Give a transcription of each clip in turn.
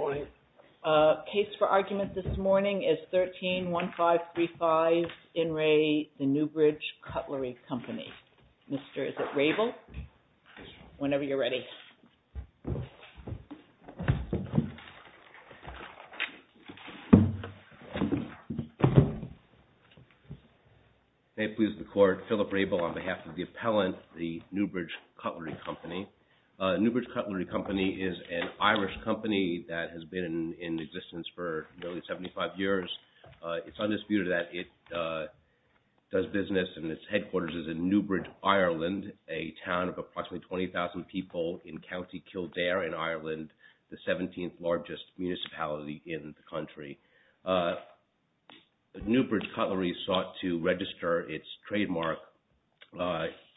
My case for argument this morning is 13-1535 In Re The Newbridge Cutlery Company. Mr. Is it Rabel? Whenever you're ready. May it please the court, Philip Rabel on behalf of the appellant, the Newbridge Cutlery Company. Newbridge Cutlery Company is an Irish company that has been in existence for nearly 75 years. It's undisputed that it does business and its headquarters is in Newbridge, Ireland, a town of approximately 20,000 people in County Kildare in Ireland, the 17th largest municipality in the country. Newbridge Cutlery sought to register its trademark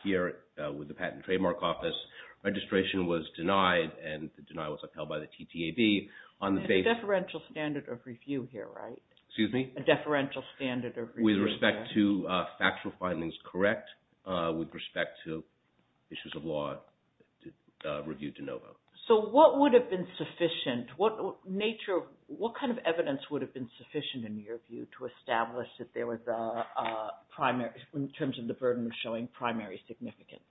here with the Patent and Trademark Office. Registration was denied and the deny was upheld by the TTAB on the basis A deferential standard of review here, right? Excuse me? A deferential standard of review. With respect to factual findings, correct. With respect to issues of law, reviewed to no vote. So what would have been sufficient? What nature, what kind of evidence would have been sufficient in your view to establish that there was a primary, in terms of the burden of showing primary significance?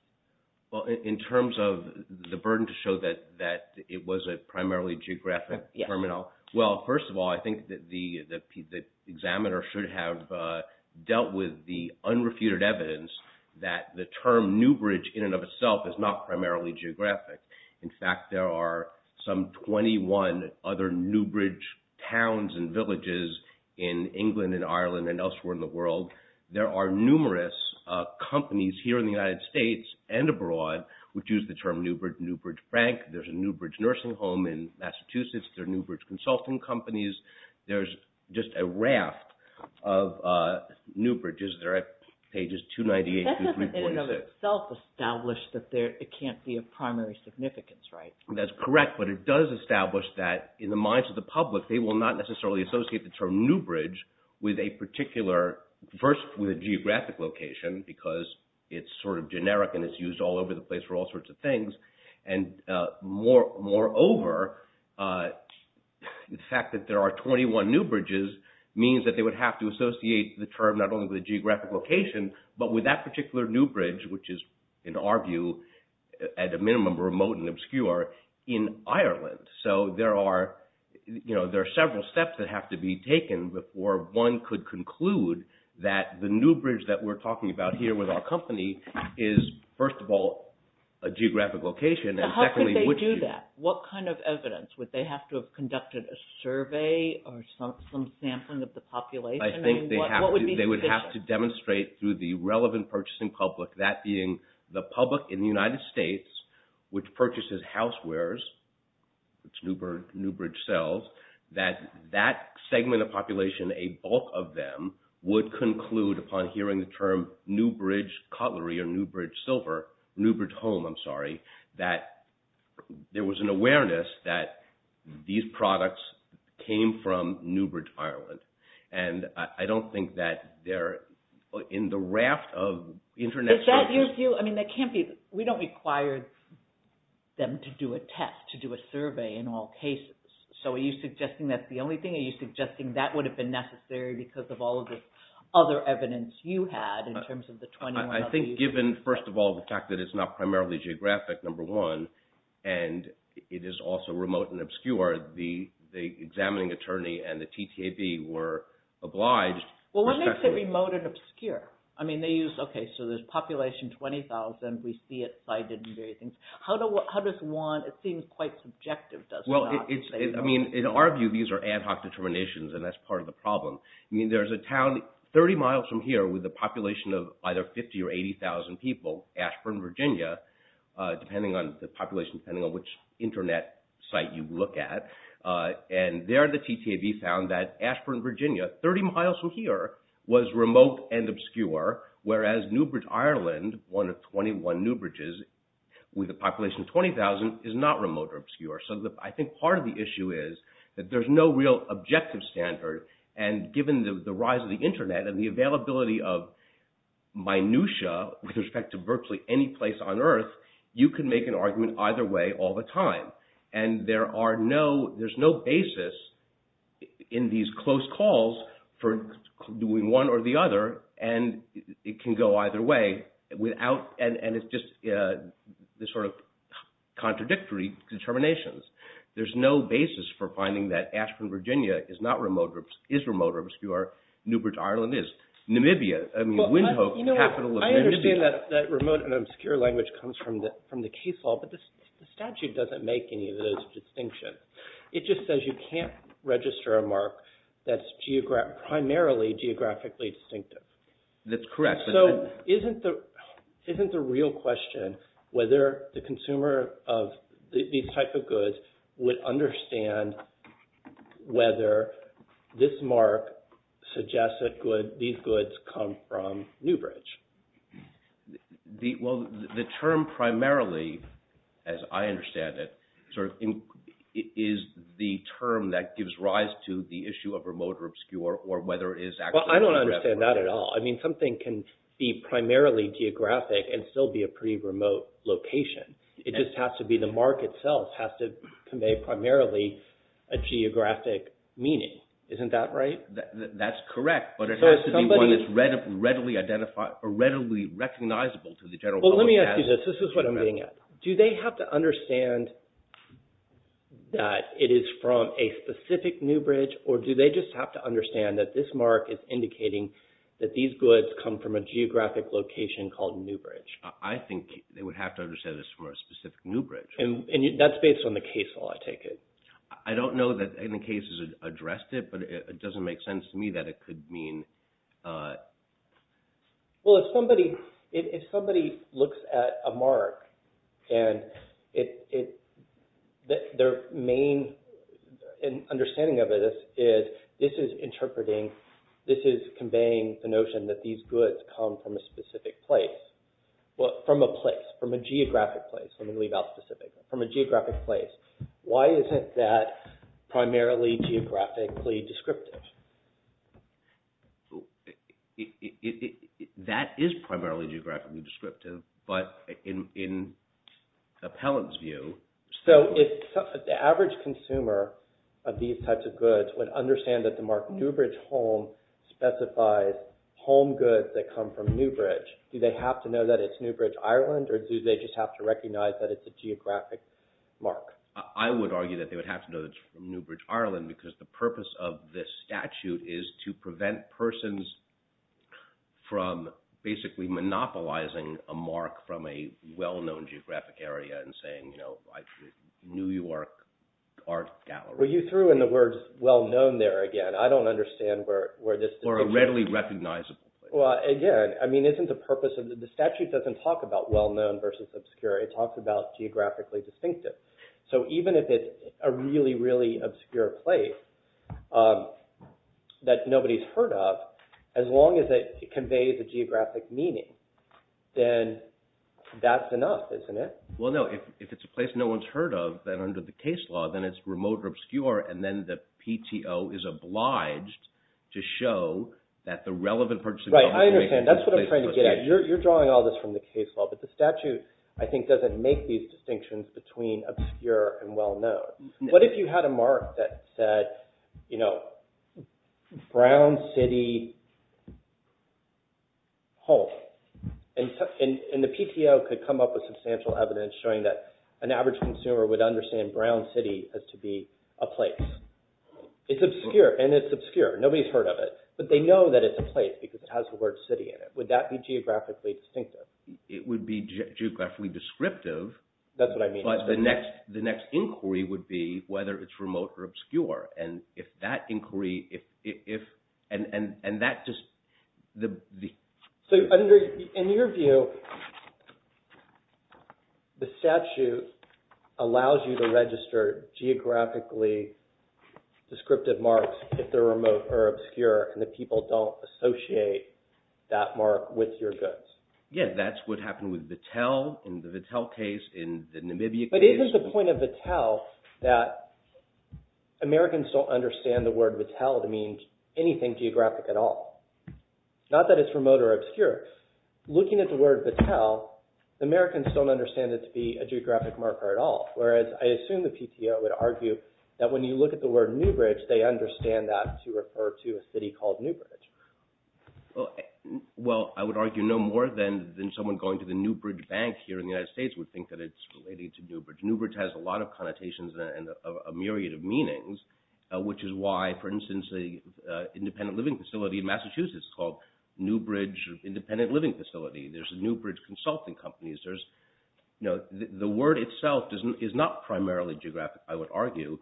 Well, in terms of the burden to show that it was a primarily geographic terminal. Well, first of all, I think that the examiner should have dealt with the unrefuted evidence that the term Newbridge in and of itself is not primarily geographic. In fact, there are some 21 other Newbridge towns and villages in England and Ireland and elsewhere in the world. There are numerous companies here in the United States and abroad which use the term Newbridge. Newbridge Frank. There's a Newbridge nursing home in Massachusetts. There are Newbridge consulting companies. There's just a raft of Newbridges. They're at pages 298 through 326. That doesn't in and of itself establish that it can't be of primary significance, right? That's correct, but it does establish that in the minds of the public, they will not necessarily associate the term Newbridge with a particular, first with a geographic location because it's sort of generic and it's used all over the place for all sorts of things. And moreover, the fact that there are 21 Newbridges means that they would have to associate the term not only with a geographic location, but with that particular Newbridge, which is, in our view, at a minimum, remote and obscure in Ireland. So there are several steps that have to be taken before one could conclude that the Newbridge that we're talking about here with our company is, first of all, a geographic location. How could they do that? What kind of evidence? Would they have to have conducted a survey or some sampling of the population? I think they would have to demonstrate through the relevant purchasing public, that being the public in the United States, which purchases housewares, which Newbridge sells, that that segment of population, a bulk of them, would conclude upon hearing the term Newbridge cutlery or Newbridge home, that there was an awareness that these products came from Newbridge, Ireland. And I don't think that they're in the raft of international – Is that your view? I mean, that can't be – we don't require them to do a test, to do a survey in all cases. So are you suggesting that's the only thing? Are you suggesting that would have been necessary because of all of the other evidence you had in terms of the 21 other – I think given, first of all, the fact that it's not primarily geographic, number one, and it is also remote and obscure, the examining attorney and the TTAB were obliged – Well, what makes it remote and obscure? I mean, they use – okay, so there's population 20,000. We see it cited and various things. How does one – it seems quite subjective, doesn't it? Well, it's – I mean, in our view, these are ad hoc determinations, and that's part of the problem. I mean, there's a town 30 miles from here with a population of either 50 or 80,000 people, Ashburn, Virginia, depending on the population, depending on which Internet site you look at. And there the TTAB found that Ashburn, Virginia, 30 miles from here, was remote and obscure, whereas Newbridge, Ireland, one of 21 Newbridges, with a population of 20,000, is not remote or obscure. So I think part of the issue is that there's no real objective standard, and given the rise of the Internet and the availability of minutia with respect to virtually any place on Earth, you can make an argument either way all the time. And there are no – there's no basis in these close calls for doing one or the other, and it can go either way without – and it's just this sort of contradictory determinations. There's no basis for finding that Ashburn, Virginia is not remote or – is remote or obscure. Newbridge, Ireland is. Namibia – I mean, Windhoek, capital of Namibia. I understand that remote and obscure language comes from the case law, but the statute doesn't make any of those distinctions. It just says you can't register a mark that's primarily geographically distinctive. That's correct. So isn't the real question whether the consumer of these types of goods would understand whether this mark suggests that these goods come from Newbridge? Well, the term primarily, as I understand it, is the term that gives rise to the issue of remote or obscure or whether it is actually geographic. Well, I don't understand that at all. I mean, something can be primarily geographic and still be a pretty remote location. It just has to be the mark itself has to convey primarily a geographic meaning. Isn't that right? That's correct, but it has to be one that's readily recognizable to the general public as geographic. Well, let me ask you this. This is what I'm getting at. Do they have to understand that it is from a specific Newbridge, or do they just have to understand that this mark is indicating that these goods come from a geographic location called Newbridge? I think they would have to understand it's from a specific Newbridge. And that's based on the case law, I take it. I don't know that any cases addressed it, but it doesn't make sense to me that it could mean – Well, if somebody looks at a mark and their main understanding of it is this is interpreting, this is conveying the notion that these goods come from a specific place, from a place, from a geographic place. Let me leave out specific, from a geographic place. Why isn't that primarily geographically descriptive? That is primarily geographically descriptive, but in the appellant's view – So if the average consumer of these types of goods would understand that the mark Newbridge Home specifies home goods that come from Newbridge, do they have to know that it's Newbridge, Ireland, or do they just have to recognize that it's a geographic mark? I would argue that they would have to know it's from Newbridge, Ireland, because the purpose of this statute is to prevent persons from basically monopolizing a mark from a well-known geographic area and saying New York Art Gallery. Well, you threw in the words well-known there again. I don't understand where this – Or a readily recognizable place. Well, again, I mean isn't the purpose of – the statute doesn't talk about well-known versus obscure. It talks about geographically distinctive. So even if it's a really, really obscure place that nobody's heard of, as long as it conveys a geographic meaning, then that's enough, isn't it? Well, no. If it's a place no one's heard of, then under the case law, then it's remote or obscure, and then the PTO is obliged to show that the relevant person – Right. I understand. That's what I'm trying to get at. You're drawing all this from the case law, but the statute I think doesn't make these distinctions between obscure and well-known. What if you had a mark that said Brown City Home? And the PTO could come up with substantial evidence showing that an average consumer would understand Brown City as to be a place. It's obscure, and it's obscure. Nobody's heard of it. But they know that it's a place because it has the word city in it. Would that be geographically distinctive? It would be geographically descriptive. That's what I mean. But the next inquiry would be whether it's remote or obscure. And if that inquiry – and that just – So in your view, the statute allows you to register geographically descriptive marks if they're remote or obscure and the people don't associate that mark with your goods. Yeah, that's what happened with Vattel in the Vattel case, in the Namibia case. But isn't the point of Vattel that Americans don't understand the word Vattel to mean anything geographic at all? Not that it's remote or obscure. Looking at the word Vattel, Americans don't understand it to be a geographic marker at all, whereas I assume the PTO would argue that when you look at the word Newbridge, they understand that to refer to a city called Newbridge. Well, I would argue no more than someone going to the Newbridge Bank here in the United States would think that it's related to Newbridge. Newbridge has a lot of connotations and a myriad of meanings, which is why, for instance, the independent living facility in Massachusetts is called Newbridge Independent Living Facility. There's Newbridge Consulting Companies. The word itself is not primarily geographic, I would argue,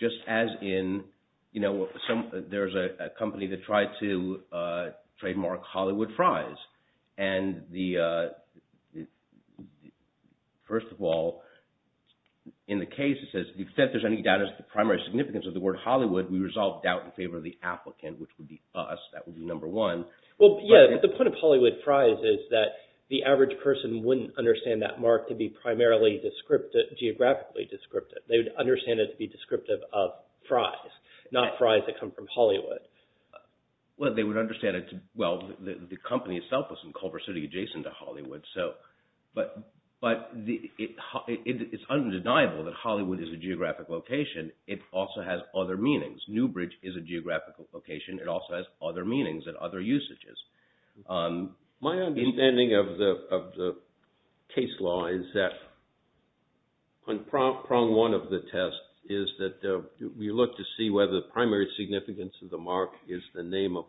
just as in there's a company that tried to trademark Hollywood fries. And first of all, in the case it says, if there's any doubt as to the primary significance of the word Hollywood, we resolve doubt in favor of the applicant, which would be us. That would be number one. Well, yeah, but the point of Hollywood fries is that the average person wouldn't understand that mark to be primarily geographically descriptive. They would understand it to be descriptive of fries, not fries that come from Hollywood. Well, they would understand it to – well, the company itself was in Culver City adjacent to Hollywood. But it's undeniable that Hollywood is a geographic location. It also has other meanings. Newbridge is a geographical location. It also has other meanings and other usages. My understanding of the case law is that on prong one of the tests is that we look to see whether the primary significance of the mark is the name of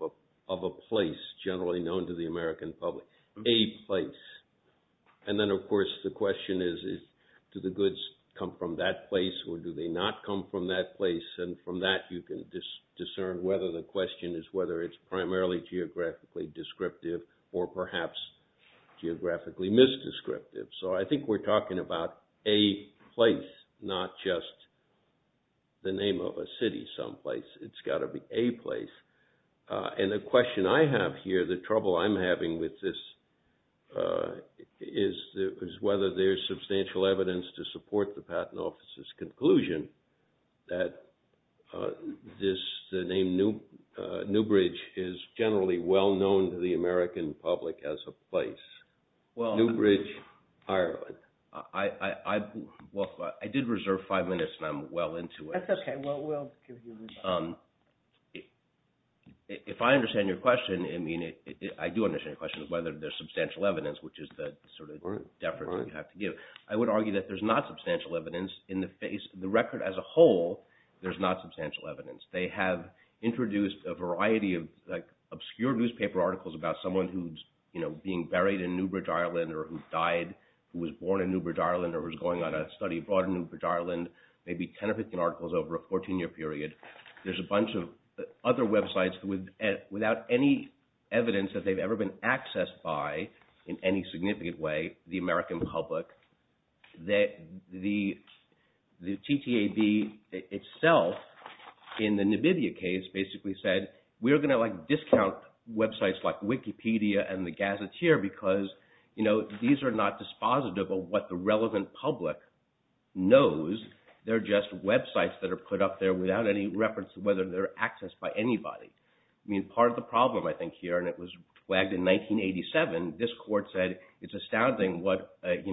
a place generally known to the American public, a place. And then, of course, the question is, do the goods come from that place or do they not come from that place? And from that, you can discern whether the question is whether it's primarily geographically descriptive or perhaps geographically misdescriptive. So I think we're talking about a place, not just the name of a city someplace. It's got to be a place. And the question I have here, the trouble I'm having with this, is whether there's substantial evidence to support the Patent Office's conclusion that the name Newbridge is generally well known to the American public as a place. Newbridge, Ireland. Well, I did reserve five minutes, and I'm well into it. That's okay. If I understand your question, I do understand your question of whether there's substantial evidence, which is the sort of deference you have to give. I would argue that there's not substantial evidence in the record as a whole. There's not substantial evidence. They have introduced a variety of obscure newspaper articles about someone who's being buried in Newbridge, Ireland or who died, who was born in Newbridge, Ireland or was going on a study abroad in Newbridge, Ireland, maybe 10 or 15 articles over a 14-year period. There's a bunch of other websites without any evidence that they've ever been accessed by in any significant way the American public. The TTAB itself in the Namibia case basically said, we're going to discount websites like Wikipedia and the Gazetteer because these are not dispositive of what the relevant public knows. They're just websites that are put up there without any reference to whether they're accessed by anybody. Part of the problem I think here, and it was flagged in 1987, this court said, it's astounding what a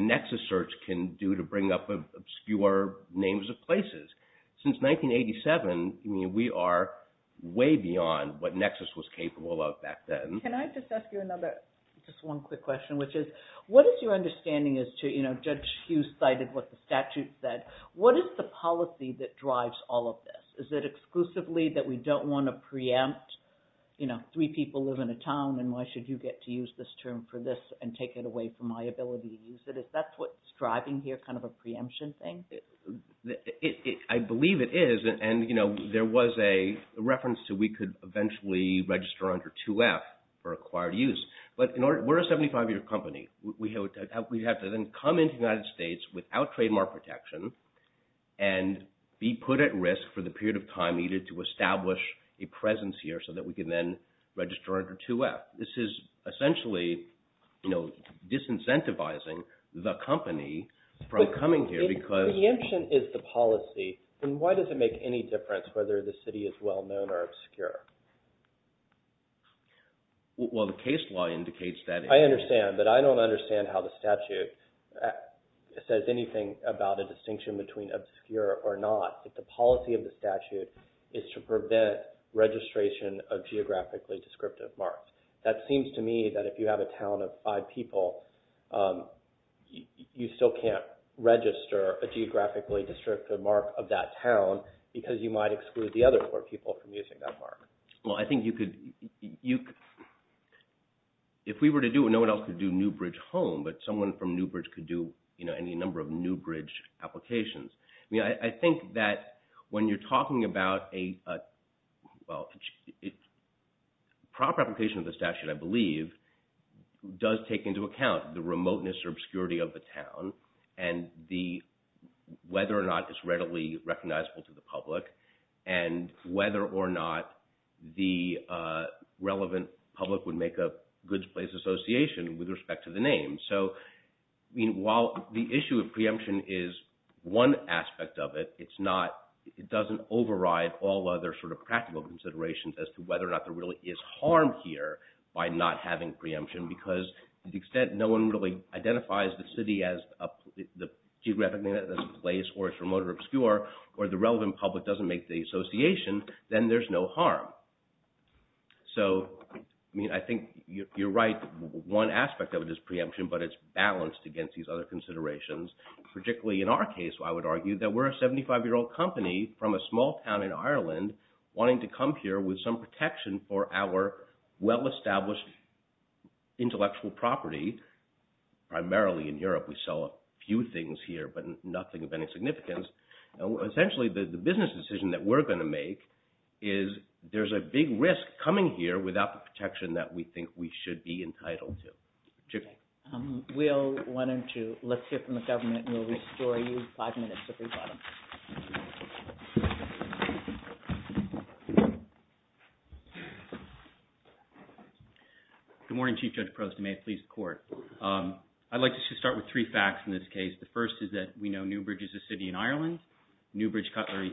Nexus search can do to bring up obscure names of places. Since 1987, we are way beyond what Nexus was capable of back then. Can I just ask you another, just one quick question, which is, what is your understanding as to, Judge Hughes cited what the statute said, what is the policy that drives all of this? Is it exclusively that we don't want to preempt three people live in a town and why should you get to use this term for this and take it away from my ability to use it? Is that what's driving here, kind of a preemption thing? I believe it is, and there was a reference to we could eventually register under 2F for acquired use, but we're a 75-year company. We have to then come into the United States without trademark protection and be put at risk for the period of time needed to establish a presence here so that we can then register under 2F. This is essentially disincentivizing the company from coming here because – But preemption is the policy, and why does it make any difference whether the city is well-known or obscure? Well, the case law indicates that – I understand, but I don't understand how the statute says anything about a distinction between obscure or not. The policy of the statute is to prevent registration of geographically descriptive marks. That seems to me that if you have a town of five people, you still can't register a geographically descriptive mark of that town because you might exclude the other four people from using that mark. Well, I think you could – if we were to do it, no one else could do Newbridge Home, but someone from Newbridge could do any number of Newbridge applications. I think that when you're talking about a – well, proper application of the statute, I believe, does take into account the remoteness or obscurity of the town and the – whether or not it's readily recognizable to the public and whether or not the relevant public would make a goods place association with respect to the name. So while the issue of preemption is one aspect of it, it's not – it doesn't override all other sort of practical considerations as to whether or not there really is harm here by not having preemption because to the extent no one really identifies the city as a – the geographic name as a place or it's remote or obscure or the relevant public doesn't make the association, then there's no harm. So, I mean, I think you're right. One aspect of it is preemption, but it's balanced against these other considerations, particularly in our case, I would argue that we're a 75-year-old company from a small town in Ireland wanting to come here with some protection for our well-established intellectual property. Primarily in Europe, we sell a few things here but nothing of any significance. Essentially, the business decision that we're going to make is there's a big risk coming here without the protection that we think we should be entitled to. We'll – why don't you – let's hear from the government and we'll restore you five minutes at the bottom. Good morning, Chief Judge Prost and may it please the Court. I'd like to just start with three facts in this case. The first is that we know Newbridge is a city in Ireland. Newbridge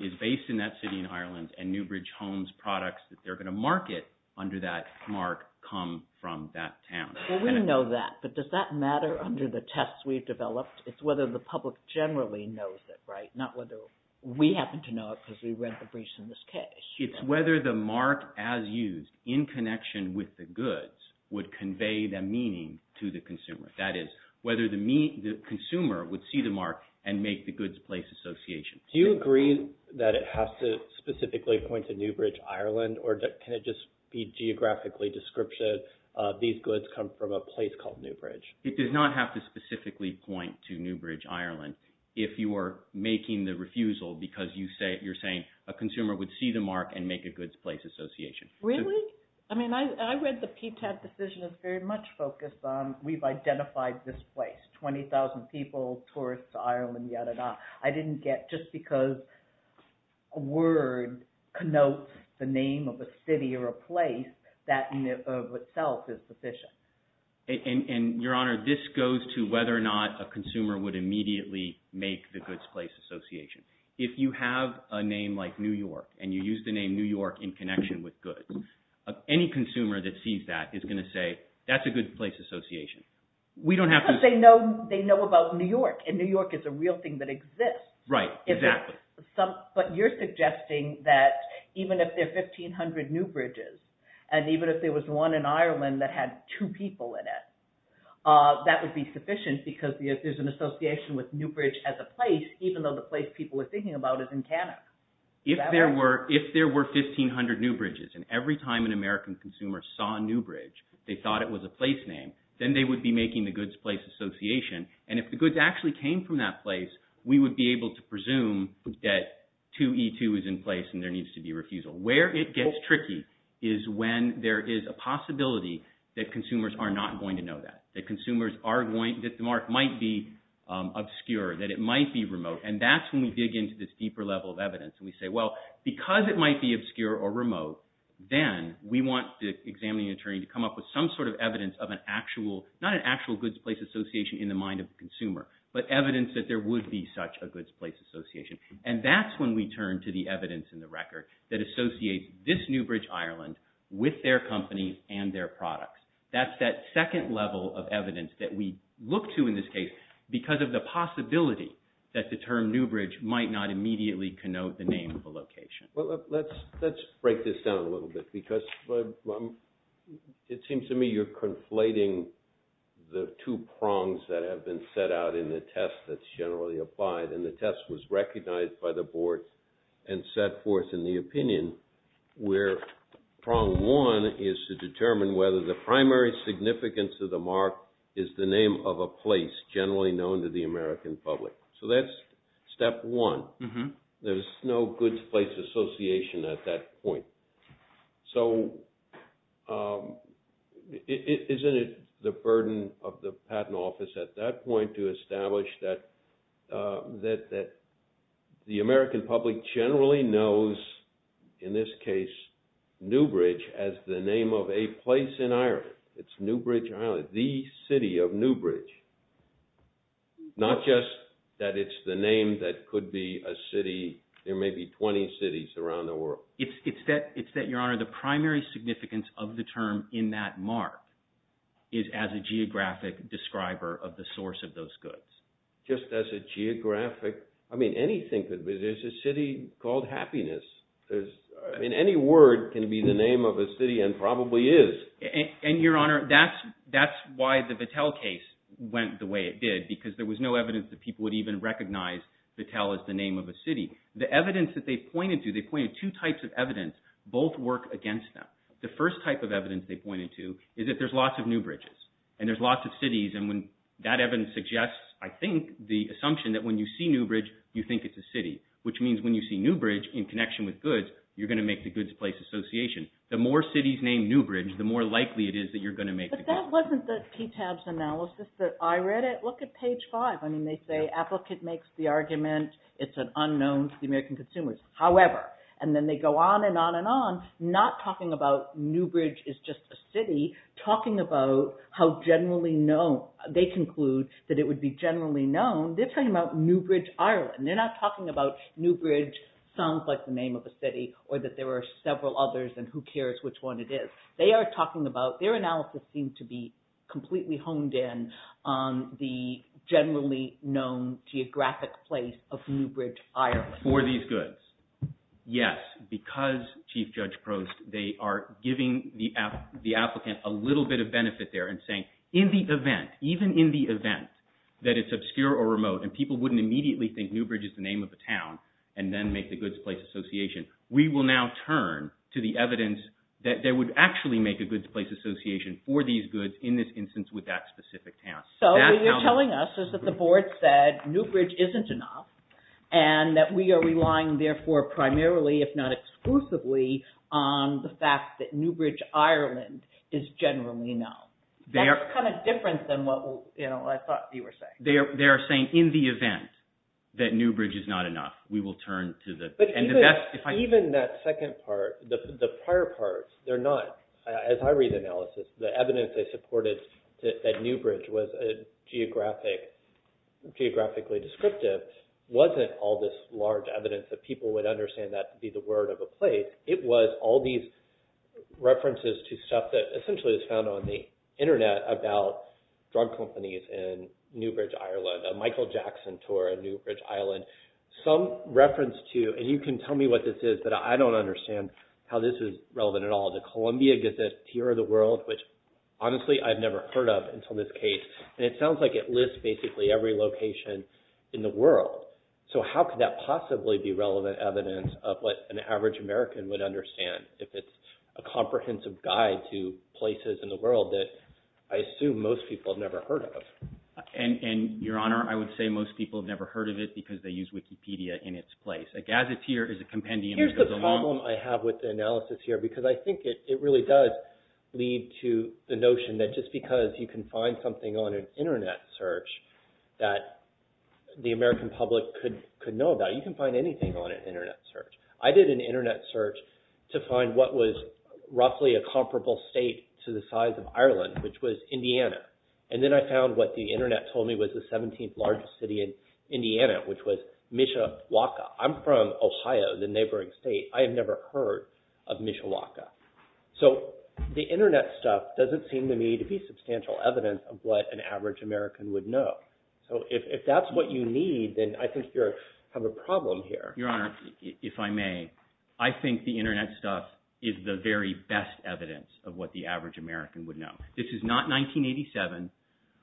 is based in that city in Ireland and Newbridge Homes products that they're going to market under that mark come from that town. Well, we know that, but does that matter under the tests we've developed? It's whether the public generally knows it, right? Not whether we happen to know it because we read the briefs in this case. It's whether the mark as used in connection with the goods would convey that meaning to the consumer. That is, whether the consumer would see the mark and make the goods place association. Do you agree that it has to specifically point to Newbridge, Ireland, or can it just be geographically description? These goods come from a place called Newbridge. It does not have to specifically point to Newbridge, Ireland, if you are making the refusal because you're saying a consumer would see the mark and make a goods place association. Really? I mean, I read the PTAB decision is very much focused on we've identified this place, 20,000 people, tourists to Ireland, yada, yada. I didn't get just because a word connotes the name of a city or a place, that in and of itself is sufficient. Your Honor, this goes to whether or not a consumer would immediately make the goods place association. If you have a name like New York and you use the name New York in connection with goods, any consumer that sees that is going to say that's a goods place association. Because they know about New York and New York is a real thing that exists. Right, exactly. But you're suggesting that even if there are 1,500 Newbridges and even if there was one in Ireland that had two people in it, that would be sufficient because there's an association with Newbridge as a place even though the place people are thinking about is in Canada. If there were 1,500 Newbridges and every time an American consumer saw Newbridge, they thought it was a place name, then they would be making the goods place association. And if the goods actually came from that place, we would be able to presume that 2E2 is in place and there needs to be refusal. Where it gets tricky is when there is a possibility that consumers are not going to know that, that the mark might be obscure, that it might be remote. And that's when we dig into this deeper level of evidence and we say, well, because it might be obscure or remote, then we want the examining attorney to come up with some sort of evidence of an actual, not an actual goods place association in the mind of the consumer, but evidence that there would be such a goods place association. And that's when we turn to the evidence in the record that associates this Newbridge, Ireland with their company and their products. That's that second level of evidence that we look to in this case because of the possibility that the term Newbridge might not immediately connote the name of the location. Well, let's break this down a little bit because it seems to me you're conflating the two prongs that have been set out in the test that's generally applied. And the test was recognized by the board and set forth in the opinion where prong one is to determine whether the primary significance of the mark is the name of a place generally known to the American public. So that's step one. There's no goods place association at that point. So isn't it the burden of the patent office at that point to establish that the American public generally knows, in this case, Newbridge as the name of a place in Ireland? It's Newbridge, Ireland, the city of Newbridge. Not just that it's the name that could be a city. There may be 20 cities around the world. It's that, Your Honor, the primary significance of the term in that mark is as a geographic describer of the source of those goods. Just as a geographic – I mean, anything could be. There's a city called Happiness. I mean, any word can be the name of a city and probably is. And, Your Honor, that's why the Battelle case went the way it did because there was no evidence that people would even recognize Battelle as the name of a city. The evidence that they pointed to, they pointed to two types of evidence. Both work against them. The first type of evidence they pointed to is that there's lots of Newbridges and there's lots of cities. And that evidence suggests, I think, the assumption that when you see Newbridge, you think it's a city, which means when you see Newbridge in connection with goods, you're going to make the goods place association. The more cities named Newbridge, the more likely it is that you're going to make the goods. But that wasn't the PTAB's analysis that I read. Look at page 5. I mean, they say, applicant makes the argument. It's an unknown to the American consumers. However, and then they go on and on and on, not talking about Newbridge is just a city, talking about how generally known – they conclude that it would be generally known. They're talking about Newbridge, Ireland. They're not talking about Newbridge sounds like the name of a city or that there are several others and who cares which one it is. They are talking about – their analysis seems to be completely honed in on the generally known geographic place of Newbridge, Ireland. Yes, because, Chief Judge Prost, they are giving the applicant a little bit of benefit there and saying, in the event, even in the event that it's obscure or remote and people wouldn't immediately think Newbridge is the name of a town and then make the goods place association. We will now turn to the evidence that they would actually make a goods place association for these goods in this instance with that specific town. So what you're telling us is that the board said Newbridge isn't enough and that we are relying, therefore, primarily, if not exclusively, on the fact that Newbridge, Ireland is generally known. That's kind of different than what I thought you were saying. They are saying in the event that Newbridge is not enough, we will turn to the – Even that second part, the prior part, they are not – as I read the analysis, the evidence they supported that Newbridge was geographically descriptive wasn't all this large evidence that people would understand that to be the word of a place. It was all these references to stuff that essentially is found on the internet about drug companies in Newbridge, Ireland, a Michael Jackson tour in Newbridge, Ireland. Some reference to – and you can tell me what this is, but I don't understand how this is relevant at all. The Columbia Gazette, Tier of the World, which honestly I've never heard of until this case, and it sounds like it lists basically every location in the world. So how could that possibly be relevant evidence of what an average American would understand if it's a comprehensive guide to places in the world that I assume most people have never heard of? Your Honor, I would say most people have never heard of it because they use Wikipedia in its place. A gazetteer is a compendium that goes along – because I think it really does lead to the notion that just because you can find something on an internet search that the American public could know about, you can find anything on an internet search. I did an internet search to find what was roughly a comparable state to the size of Ireland, which was Indiana, and then I found what the internet told me was the 17th largest city in Indiana, which was Mishawaka. I'm from Ohio, the neighboring state. I have never heard of Mishawaka. So the internet stuff doesn't seem to me to be substantial evidence of what an average American would know. So if that's what you need, then I think you have a problem here. Your Honor, if I may, I think the internet stuff is the very best evidence of what the average American would know. This is not 1987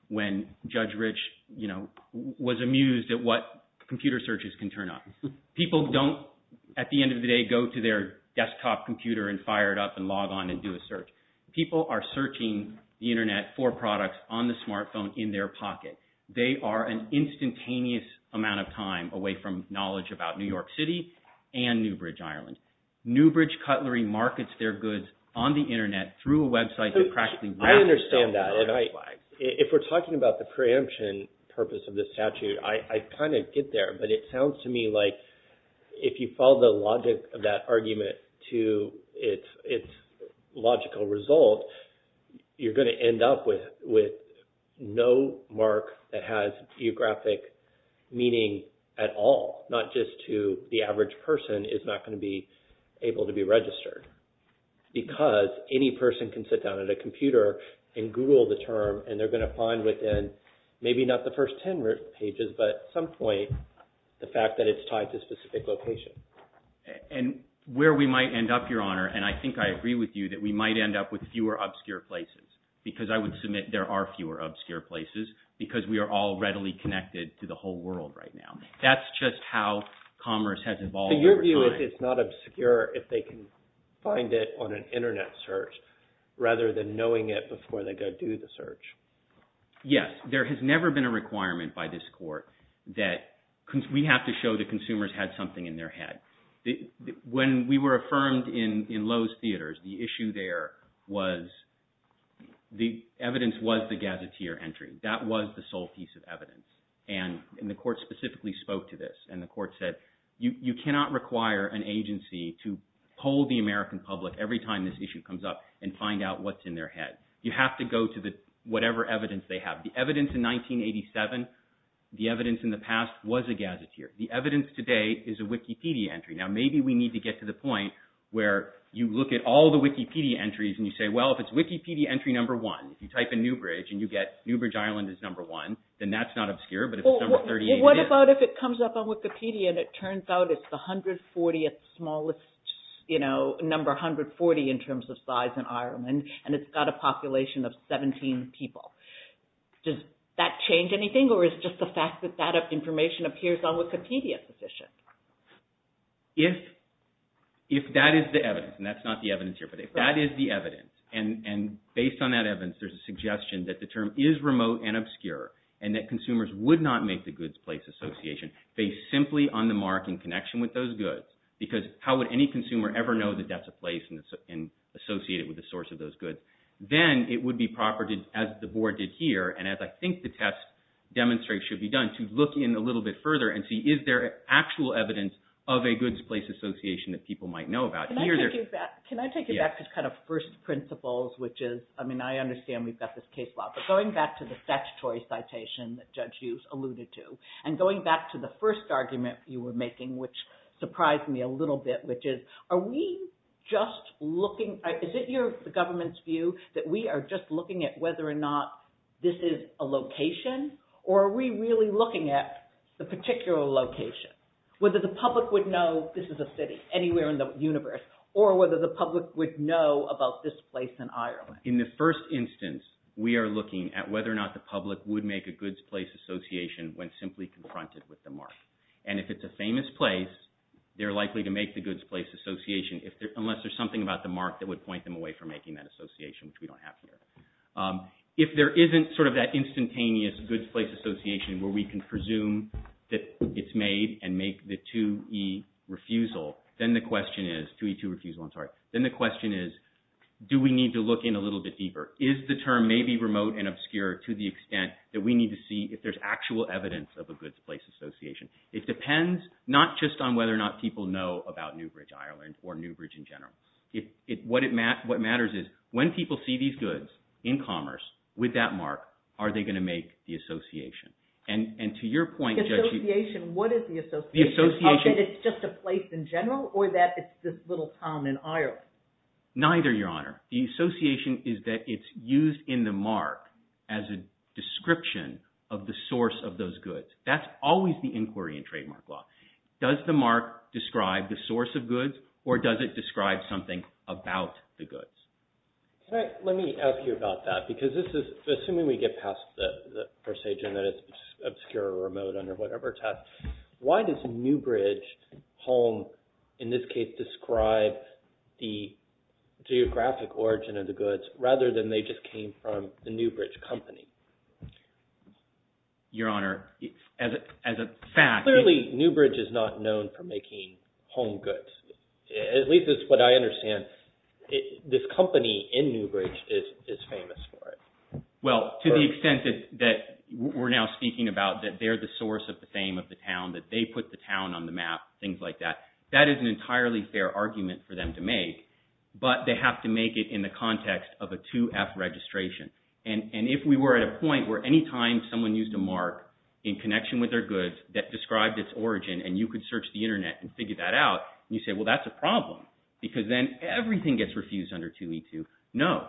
when Judge Rich was amused at what computer searches can turn up. People don't, at the end of the day, go to their desktop computer and fire it up and log on and do a search. People are searching the internet for products on the smartphone in their pocket. They are an instantaneous amount of time away from knowledge about New York City and Newbridge, Ireland. Newbridge Cutlery markets their goods on the internet through a website that practically wraps itself around the flag. I understand that. If we're talking about the preemption purpose of this statute, I kind of get there, but it sounds to me like if you follow the logic of that argument to its logical result, you're going to end up with no mark that has geographic meaning at all, not just to the average person is not going to be able to be registered. Because any person can sit down at a computer and Google the term, and they're going to find within maybe not the first 10 pages, but at some point the fact that it's tied to a specific location. And where we might end up, Your Honor, and I think I agree with you, that we might end up with fewer obscure places. Because I would submit there are fewer obscure places because we are all readily connected to the whole world right now. That's just how commerce has evolved over time. So your view is it's not obscure if they can find it on an internet search rather than knowing it before they go do the search? Yes. There has never been a requirement by this court that we have to show the consumers had something in their head. When we were affirmed in Lowe's Theaters, the issue there was the evidence was the Gazetteer entry. That was the sole piece of evidence. And the court specifically spoke to this. And the court said you cannot require an agency to poll the American public every time this issue comes up and find out what's in their head. You have to go to whatever evidence they have. The evidence in 1987, the evidence in the past was a Gazetteer. The evidence today is a Wikipedia entry. Now maybe we need to get to the point where you look at all the Wikipedia entries and you say, well, if it's Wikipedia entry number one, if you type in Newbridge and you get Newbridge, Ireland is number one, then that's not obscure, but if it's number 38. What about if it comes up on Wikipedia and it turns out it's the 140th smallest, you know, number 140 in terms of size in Ireland and it's got a population of 17 people? Does that change anything or is just the fact that that information appears on Wikipedia sufficient? If that is the evidence, and that's not the evidence here, but if that is the evidence, and based on that evidence there's a suggestion that the term is remote and obscure and that consumers would not make the goods place association based simply on the mark in connection with those goods because how would any consumer ever know that that's a place associated with the source of those goods? Then it would be proper, as the board did here, and as I think the test demonstrates should be done, to look in a little bit further and see is there actual evidence of a goods place association that people might know about? Can I take it back to kind of first principles, which is, I mean, I understand we've got this case law, but going back to the statutory citation that Judge Hughes alluded to and going back to the first argument you were making, which surprised me a little bit, which is are we just looking, is it the government's view that we are just looking at whether or not this is a location or are we really looking at the particular location? Whether the public would know this is a city anywhere in the universe or whether the public would know about this place in Ireland. In the first instance, we are looking at whether or not the public would make a goods place association when simply confronted with the mark. And if it's a famous place, they're likely to make the goods place association unless there's something about the mark that would point them away from making that association, which we don't have here. If there isn't sort of that instantaneous goods place association where we can presume that it's made and make the 2E refusal, then the question is, 2E2 refusal, I'm sorry, then the question is, do we need to look in a little bit deeper? Is the term maybe remote and obscure to the extent that we need to see if there's actual evidence of a goods place association? It depends not just on whether or not people know about Newbridge, Ireland or Newbridge in general. What matters is when people see these goods in commerce with that mark, are they going to make the association? And to your point, Judge... The association, what is the association? It's just a place in general or that it's this little town in Ireland? Neither, Your Honor. The association is that it's used in the mark as a description of the source of those goods. That's always the inquiry in trademark law. Does the mark describe the source of goods or does it describe something about the goods? Let me ask you about that because this is – assuming we get past the procedure and that it's obscure or remote under whatever test, why does Newbridge Home in this case describe the geographic origin of the goods rather than they just came from the Newbridge company? Your Honor, as a fact... Clearly, Newbridge is not known for making home goods. At least that's what I understand. This company in Newbridge is famous for it. Well, to the extent that we're now speaking about that they're the source of the fame of the town, that they put the town on the map, things like that, that is an entirely fair argument for them to make. But they have to make it in the context of a 2F registration. And if we were at a point where anytime someone used a mark in connection with their goods that described its origin and you could search the internet and figure that out, you say, well, that's a problem because then everything gets refused under 2E2. No.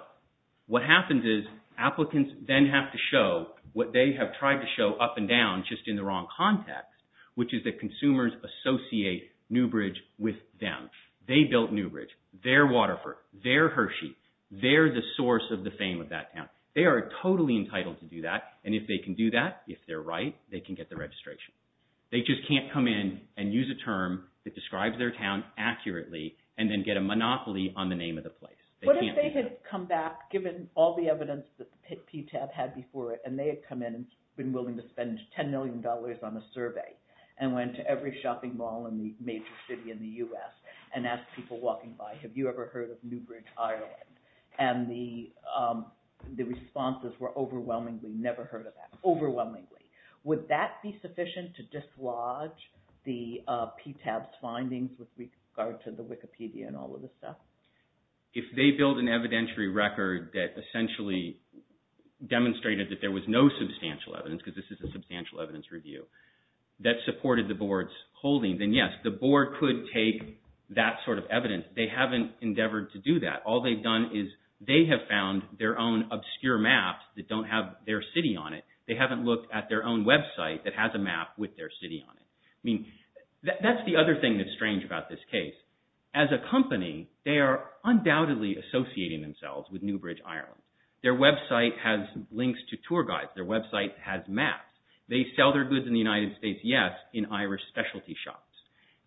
What happens is applicants then have to show what they have tried to show up and down just in the wrong context, which is that consumers associate Newbridge with them. They built Newbridge. They're Waterford. They're Hershey. They're the source of the fame of that town. They are totally entitled to do that, and if they can do that, if they're right, they can get the registration. They just can't come in and use a term that describes their town accurately and then get a monopoly on the name of the place. What if they had come back, given all the evidence that PTAB had before it, and they had come in and been willing to spend $10 million on a survey and went to every shopping mall in the major city in the U.S. and asked people walking by, have you ever heard of Newbridge, Ireland? And the responses were overwhelmingly never heard of that, overwhelmingly. Would that be sufficient to dislodge the PTAB's findings with regard to the Wikipedia and all of this stuff? If they build an evidentiary record that essentially demonstrated that there was no substantial evidence, because this is a substantial evidence review, that supported the board's holding, then yes, the board could take that sort of evidence. They haven't endeavored to do that. All they've done is they have found their own obscure maps that don't have their city on it. They haven't looked at their own website that has a map with their city on it. I mean, that's the other thing that's strange about this case. As a company, they are undoubtedly associating themselves with Newbridge, Ireland. Their website has links to tour guides. Their website has maps. They sell their goods in the United States, yes, in Irish specialty shops.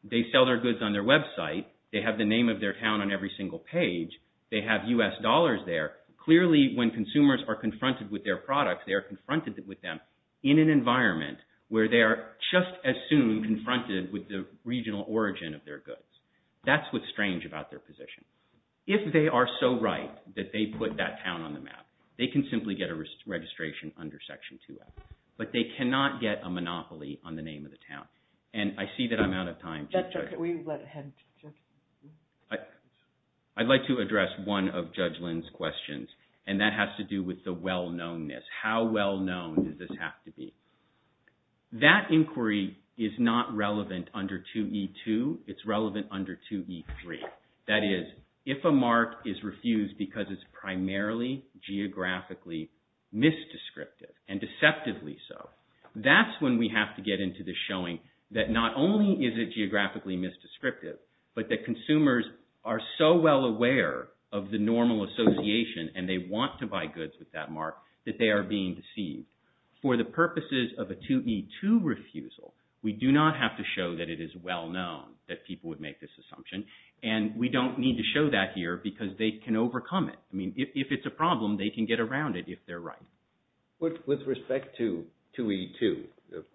They sell their goods on their website. They have the name of their town on every single page. They have U.S. dollars there. Clearly, when consumers are confronted with their products, they are confronted with them in an environment where they are just as soon confronted with the regional origin of their goods. That's what's strange about their position. If they are so right that they put that town on the map, they can simply get a registration under Section 2F, but they cannot get a monopoly on the name of the town. And I see that I'm out of time. That's okay. We'll let him. I'd like to address one of Judge Lynn's questions, and that has to do with the well-knownness. How well-known does this have to be? That inquiry is not relevant under 2E2. It's relevant under 2E3. That is, if a mark is refused because it's primarily geographically misdescriptive, and deceptively so, that's when we have to get into the showing that not only is it geographically misdescriptive, but that consumers are so well aware of the normal association, and they want to buy goods with that mark, that they are being deceived. For the purposes of a 2E2 refusal, we do not have to show that it is well-known that people would make this assumption, and we don't need to show that here because they can overcome it. I mean, if it's a problem, they can get around it if they're right. With respect to 2E2,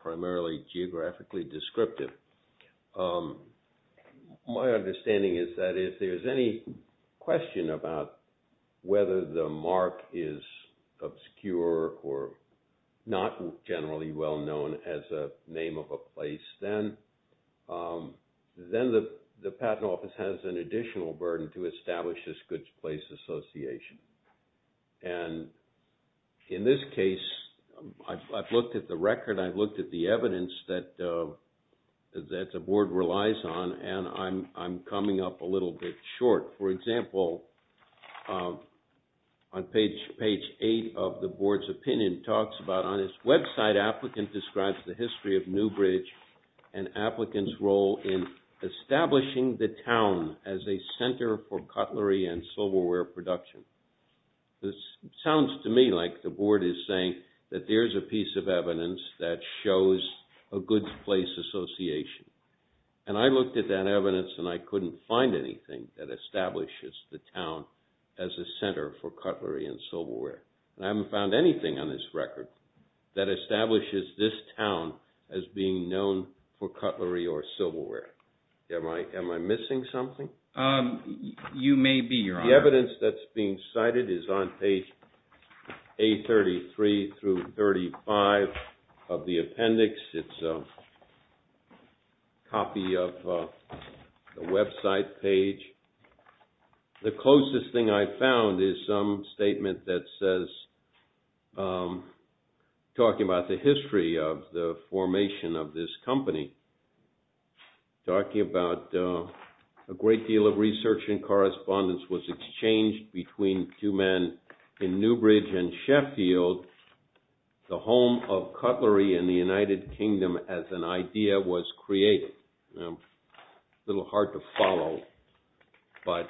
primarily geographically descriptive, my understanding is that if there's any question about whether the mark is obscure or not generally well-known as a name of a place, then the Patent Office has an additional burden to establish this goods place association. And in this case, I've looked at the record, I've looked at the evidence that the Board relies on, and I'm coming up a little bit short. For example, on page 8 of the Board's opinion, it talks about, on its website, applicant describes the history of Newbridge and applicant's role in establishing the town as a center for cutlery and silverware production. This sounds to me like the Board is saying that there's a piece of evidence that shows a goods place association. And I looked at that evidence, and I couldn't find anything that establishes the town as a center for cutlery and silverware. And I haven't found anything on this record that establishes this town as being known for cutlery or silverware. Am I missing something? You may be, Your Honor. The evidence that's being cited is on page A33 through 35 of the appendix. It's a copy of the website page. The closest thing I found is some statement that says, talking about the history of the formation of this company, talking about a great deal of research and correspondence was exchanged between two men in Newbridge and Sheffield, the home of cutlery in the United Kingdom as an idea was created. A little hard to follow, but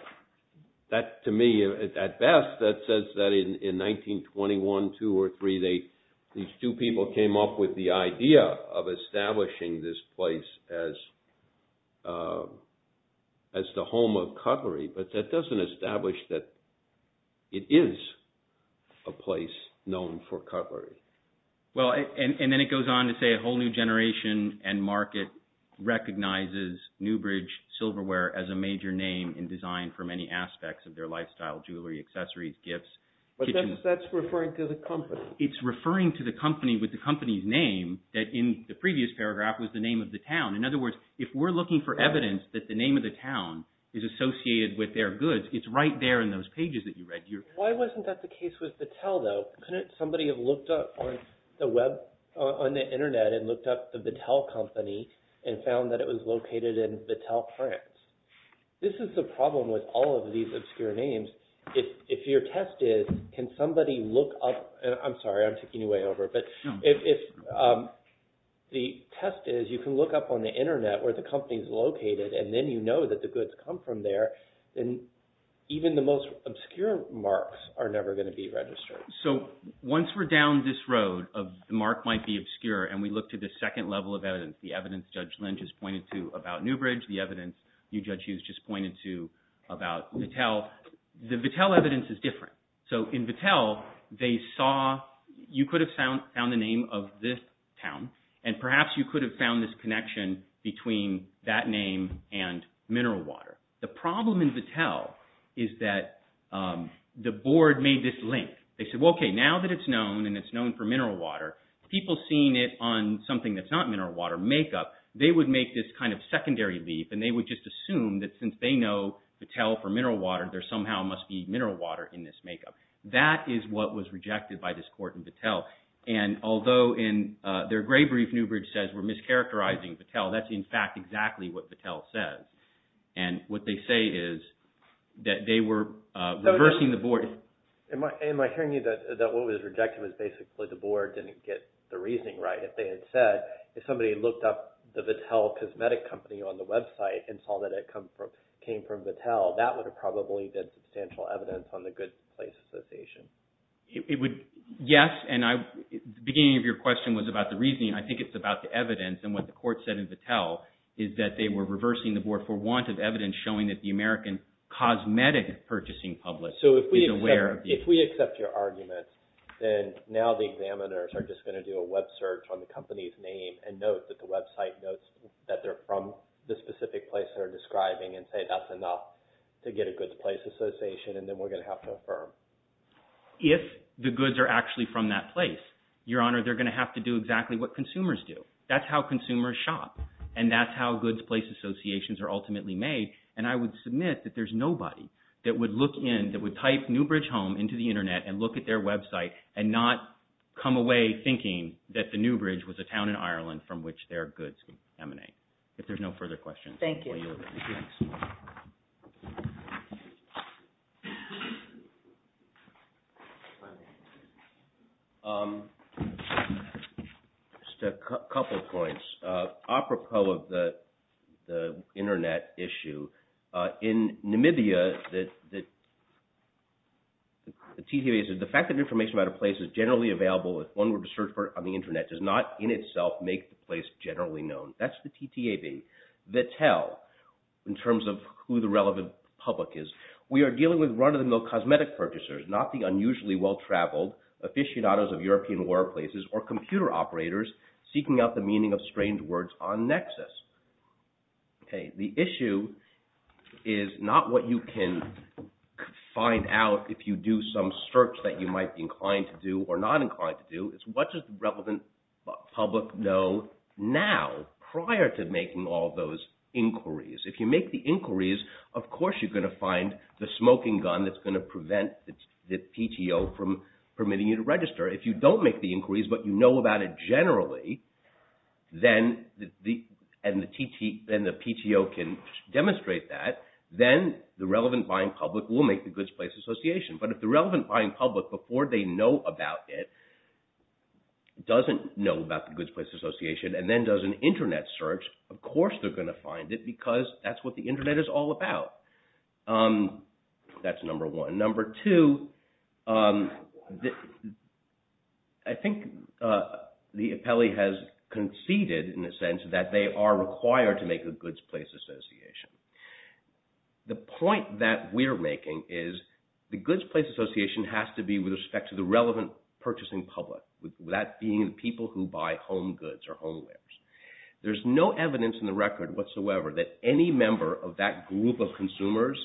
that to me, at best, that says that in 1921, two or three, these two people came up with the idea of establishing this place as the home of cutlery. But that doesn't establish that it is a place known for cutlery. Well, and then it goes on to say, a whole new generation and market recognizes Newbridge silverware as a major name in design for many aspects of their lifestyle, jewelry, accessories, gifts. But that's referring to the company. It's referring to the company with the company's name that in the previous paragraph was the name of the town. In other words, if we're looking for evidence that the name of the town is associated with their goods, it's right there in those pages that you read. Why wasn't that the case with Battelle though? Couldn't somebody have looked up on the Internet and looked up the Battelle company and found that it was located in Battelle, France? This is the problem with all of these obscure names. If your test is, can somebody look up, I'm sorry, I'm taking you way over, but if the test is you can look up on the Internet where the company is located and then you know that the goods come from there, then even the most obscure marks are never going to be registered. So once we're down this road of the mark might be obscure and we look to the second level of evidence, the evidence Judge Lynch has pointed to about Newbridge, the evidence you, Judge Hughes, just pointed to about Battelle, the Battelle evidence is different. So in Battelle, they saw, you could have found the name of this town and perhaps you could have found this connection between that name and Mineral Water. The problem in Battelle is that the board made this link. They said, okay, now that it's known and it's known for Mineral Water, people seeing it on something that's not Mineral Water makeup, they would make this kind of secondary leap and they would just assume that since they know Battelle for Mineral Water, there somehow must be Mineral Water in this makeup. That is what was rejected by this court in Battelle. And although in their gray brief, Newbridge says we're mischaracterizing Battelle, that's in fact exactly what Battelle says. And what they say is that they were reversing the board. Am I hearing you that what was rejected was basically the board didn't get the reasoning right. If they had said, if somebody looked up the Battelle cosmetic company on the website and saw that it came from Battelle, that would have probably been substantial evidence on the Good Place Association. Yes, and the beginning of your question was about the reasoning. I think it's about the evidence and what the court said in Battelle is that they were reversing the board for want of evidence showing that the American cosmetic purchasing public is aware of this. So if we accept your argument, then now the examiners are just going to do a web search on the company's name and note that the website notes that they're from the specific place they're describing and say that's enough to get a Good Place Association and then we're going to have to affirm. If the goods are actually from that place, Your Honor, they're going to have to do exactly what consumers do. That's how consumers shop and that's how Good Place Associations are ultimately made and I would submit that there's nobody that would look in, that would type Newbridge Home into the internet and look at their website and not come away thinking that the Newbridge was a town in Ireland from which their goods would emanate. If there's no further questions. Thank you. Just a couple of points. Apropos of the internet issue, in Namibia the fact that information about a place is generally available if one were to search on the internet does not in itself make the place generally known. That's the TTAB. That's how in terms of who the relevant public is. We are dealing with run-of-the-mill cosmetic purchasers, not the unusually well-traveled aficionados of European war places or computer operators seeking out the meaning of strange words on Nexus. The issue is not what you can find out if you do some search that you might be inclined to do or not inclined to do. It's what does the relevant public know now prior to making all those inquiries. If you make the inquiries, of course you're going to find the smoking gun that's going to prevent the PTO from permitting you to register. If you don't make the inquiries but you know about it generally and the PTO can demonstrate that, then the relevant buying public will make the Goods Place Association. But if the relevant buying public, before they know about it, doesn't know about the Goods Place Association and then does an internet search, of course they're going to find it because that's what the internet is all about. That's number one. Number two, I think the appellee has conceded, in a sense, that they are required to make the Goods Place Association. The point that we're making is the Goods Place Association has to be with respect to the relevant purchasing public, that being the people who buy home goods or homewares. There's no evidence in the record whatsoever that any member of that group of consumers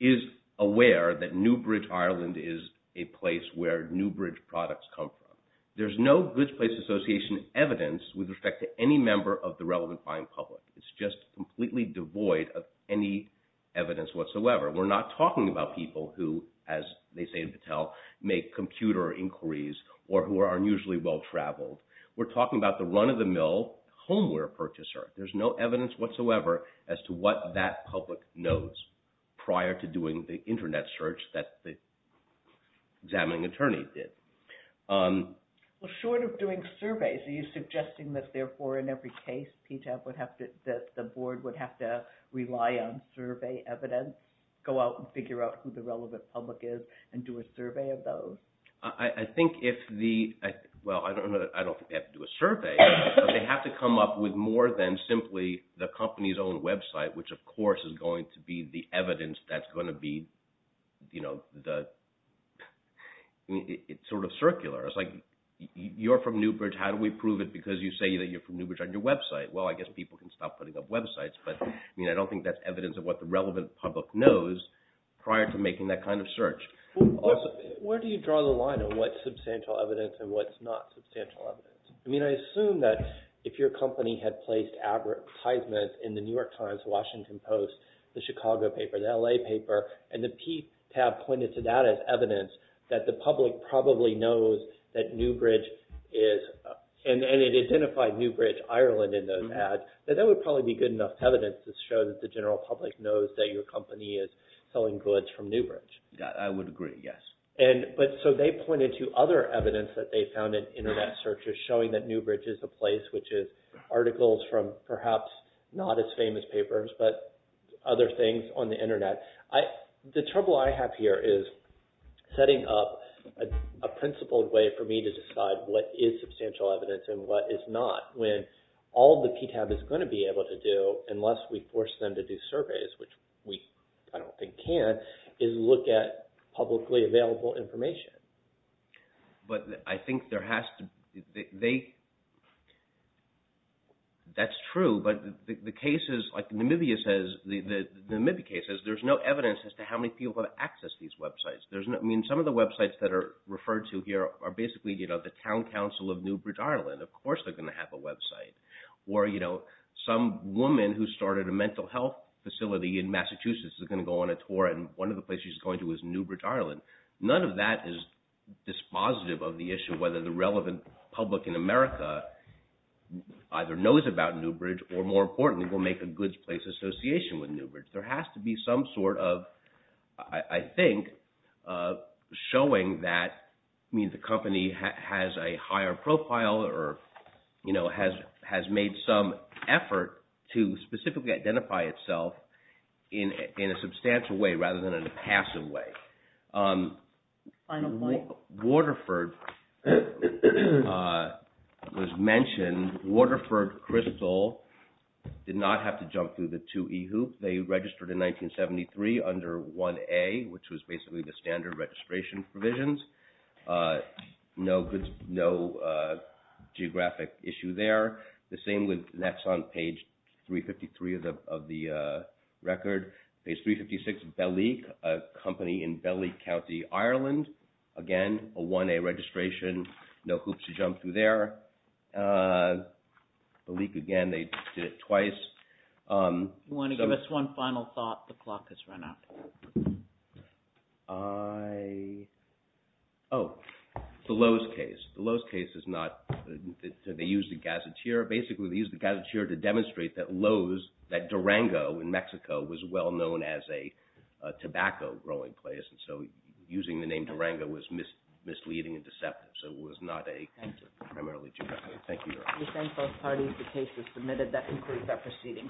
is aware that Newbridge, Ireland, is a place where Newbridge products come from. There's no Goods Place Association evidence with respect to any member of the relevant buying public. It's just completely devoid of any evidence whatsoever. We're not talking about people who, as they say in Battelle, make computer inquiries or who are unusually well-traveled. We're talking about the run-of-the-mill homeware purchaser. There's no evidence whatsoever as to what that public knows prior to doing the internet search that the examining attorney did. Well, short of doing surveys, are you suggesting that therefore in every case, the board would have to rely on survey evidence, go out and figure out who the relevant public is and do a survey of those? Well, I don't think they have to do a survey, but they have to come up with more than simply the company's own website, which of course is going to be the evidence that's going to be sort of circular. It's like, you're from Newbridge. How do we prove it? Because you say that you're from Newbridge on your website. Well, I guess people can stop putting up websites, but I don't think that's evidence of what the relevant public knows prior to making that kind of search. Where do you draw the line on what's substantial evidence and what's not substantial evidence? I mean, I assume that if your company had placed advertisements in the New York Times, Washington Post, the Chicago paper, the LA paper, and the P tab pointed to that as evidence that the public probably knows that Newbridge is, and it identified Newbridge, Ireland in those ads, that that would probably be good enough evidence to show that the general public knows that your company is selling goods from Newbridge. I would agree, yes. But so they pointed to other evidence that they found in Internet searches showing that Newbridge is a place which is articles from perhaps not as famous papers, but other things on the Internet. The trouble I have here is setting up a principled way for me to decide what is substantial evidence and what is not when all the P tab is going to be able to do, unless we force them to do surveys, which we, I don't think, can, is look at publicly available information. But I think there has to be... That's true, but the cases, like Namibia says, the Namibia case says there's no evidence as to how many people have accessed these websites. I mean, some of the websites that are referred to here are basically, you know, the town council of Newbridge, Ireland. Of course they're going to have a website. Or, you know, some woman who started a mental health facility in Massachusetts is going to go on a tour, and one of the places she's going to is Newbridge, Ireland. None of that is dispositive of the issue whether the relevant public in America either knows about Newbridge or, more importantly, will make a goods place association with Newbridge. There has to be some sort of, I think, showing that, I mean, the company has a higher profile or, you know, has made some effort to specifically identify itself in a substantial way rather than in a passive way. Final point. Waterford was mentioned. Waterford Crystal did not have to jump through the 2E hoop. They registered in 1973 under 1A, which was basically the standard registration provisions. No geographic issue there. The same with Naxon, page 353 of the record. Page 356, Bellic, a company in Bellic County, Ireland. Again, a 1A registration. No hoops to jump through there. Bellic, again, they did it twice. You want to give us one final thought? The clock has run out. I... Oh, the Lowe's case. The Lowe's case is not... They used the gazetteer. Basically, they used the gazetteer to demonstrate that Lowe's, that Durango in Mexico, was well-known as a tobacco-growing place, and so using the name Durango was misleading and deceptive, so it was not a... Thank you. We thank both parties. The case is submitted. That concludes our proceedings.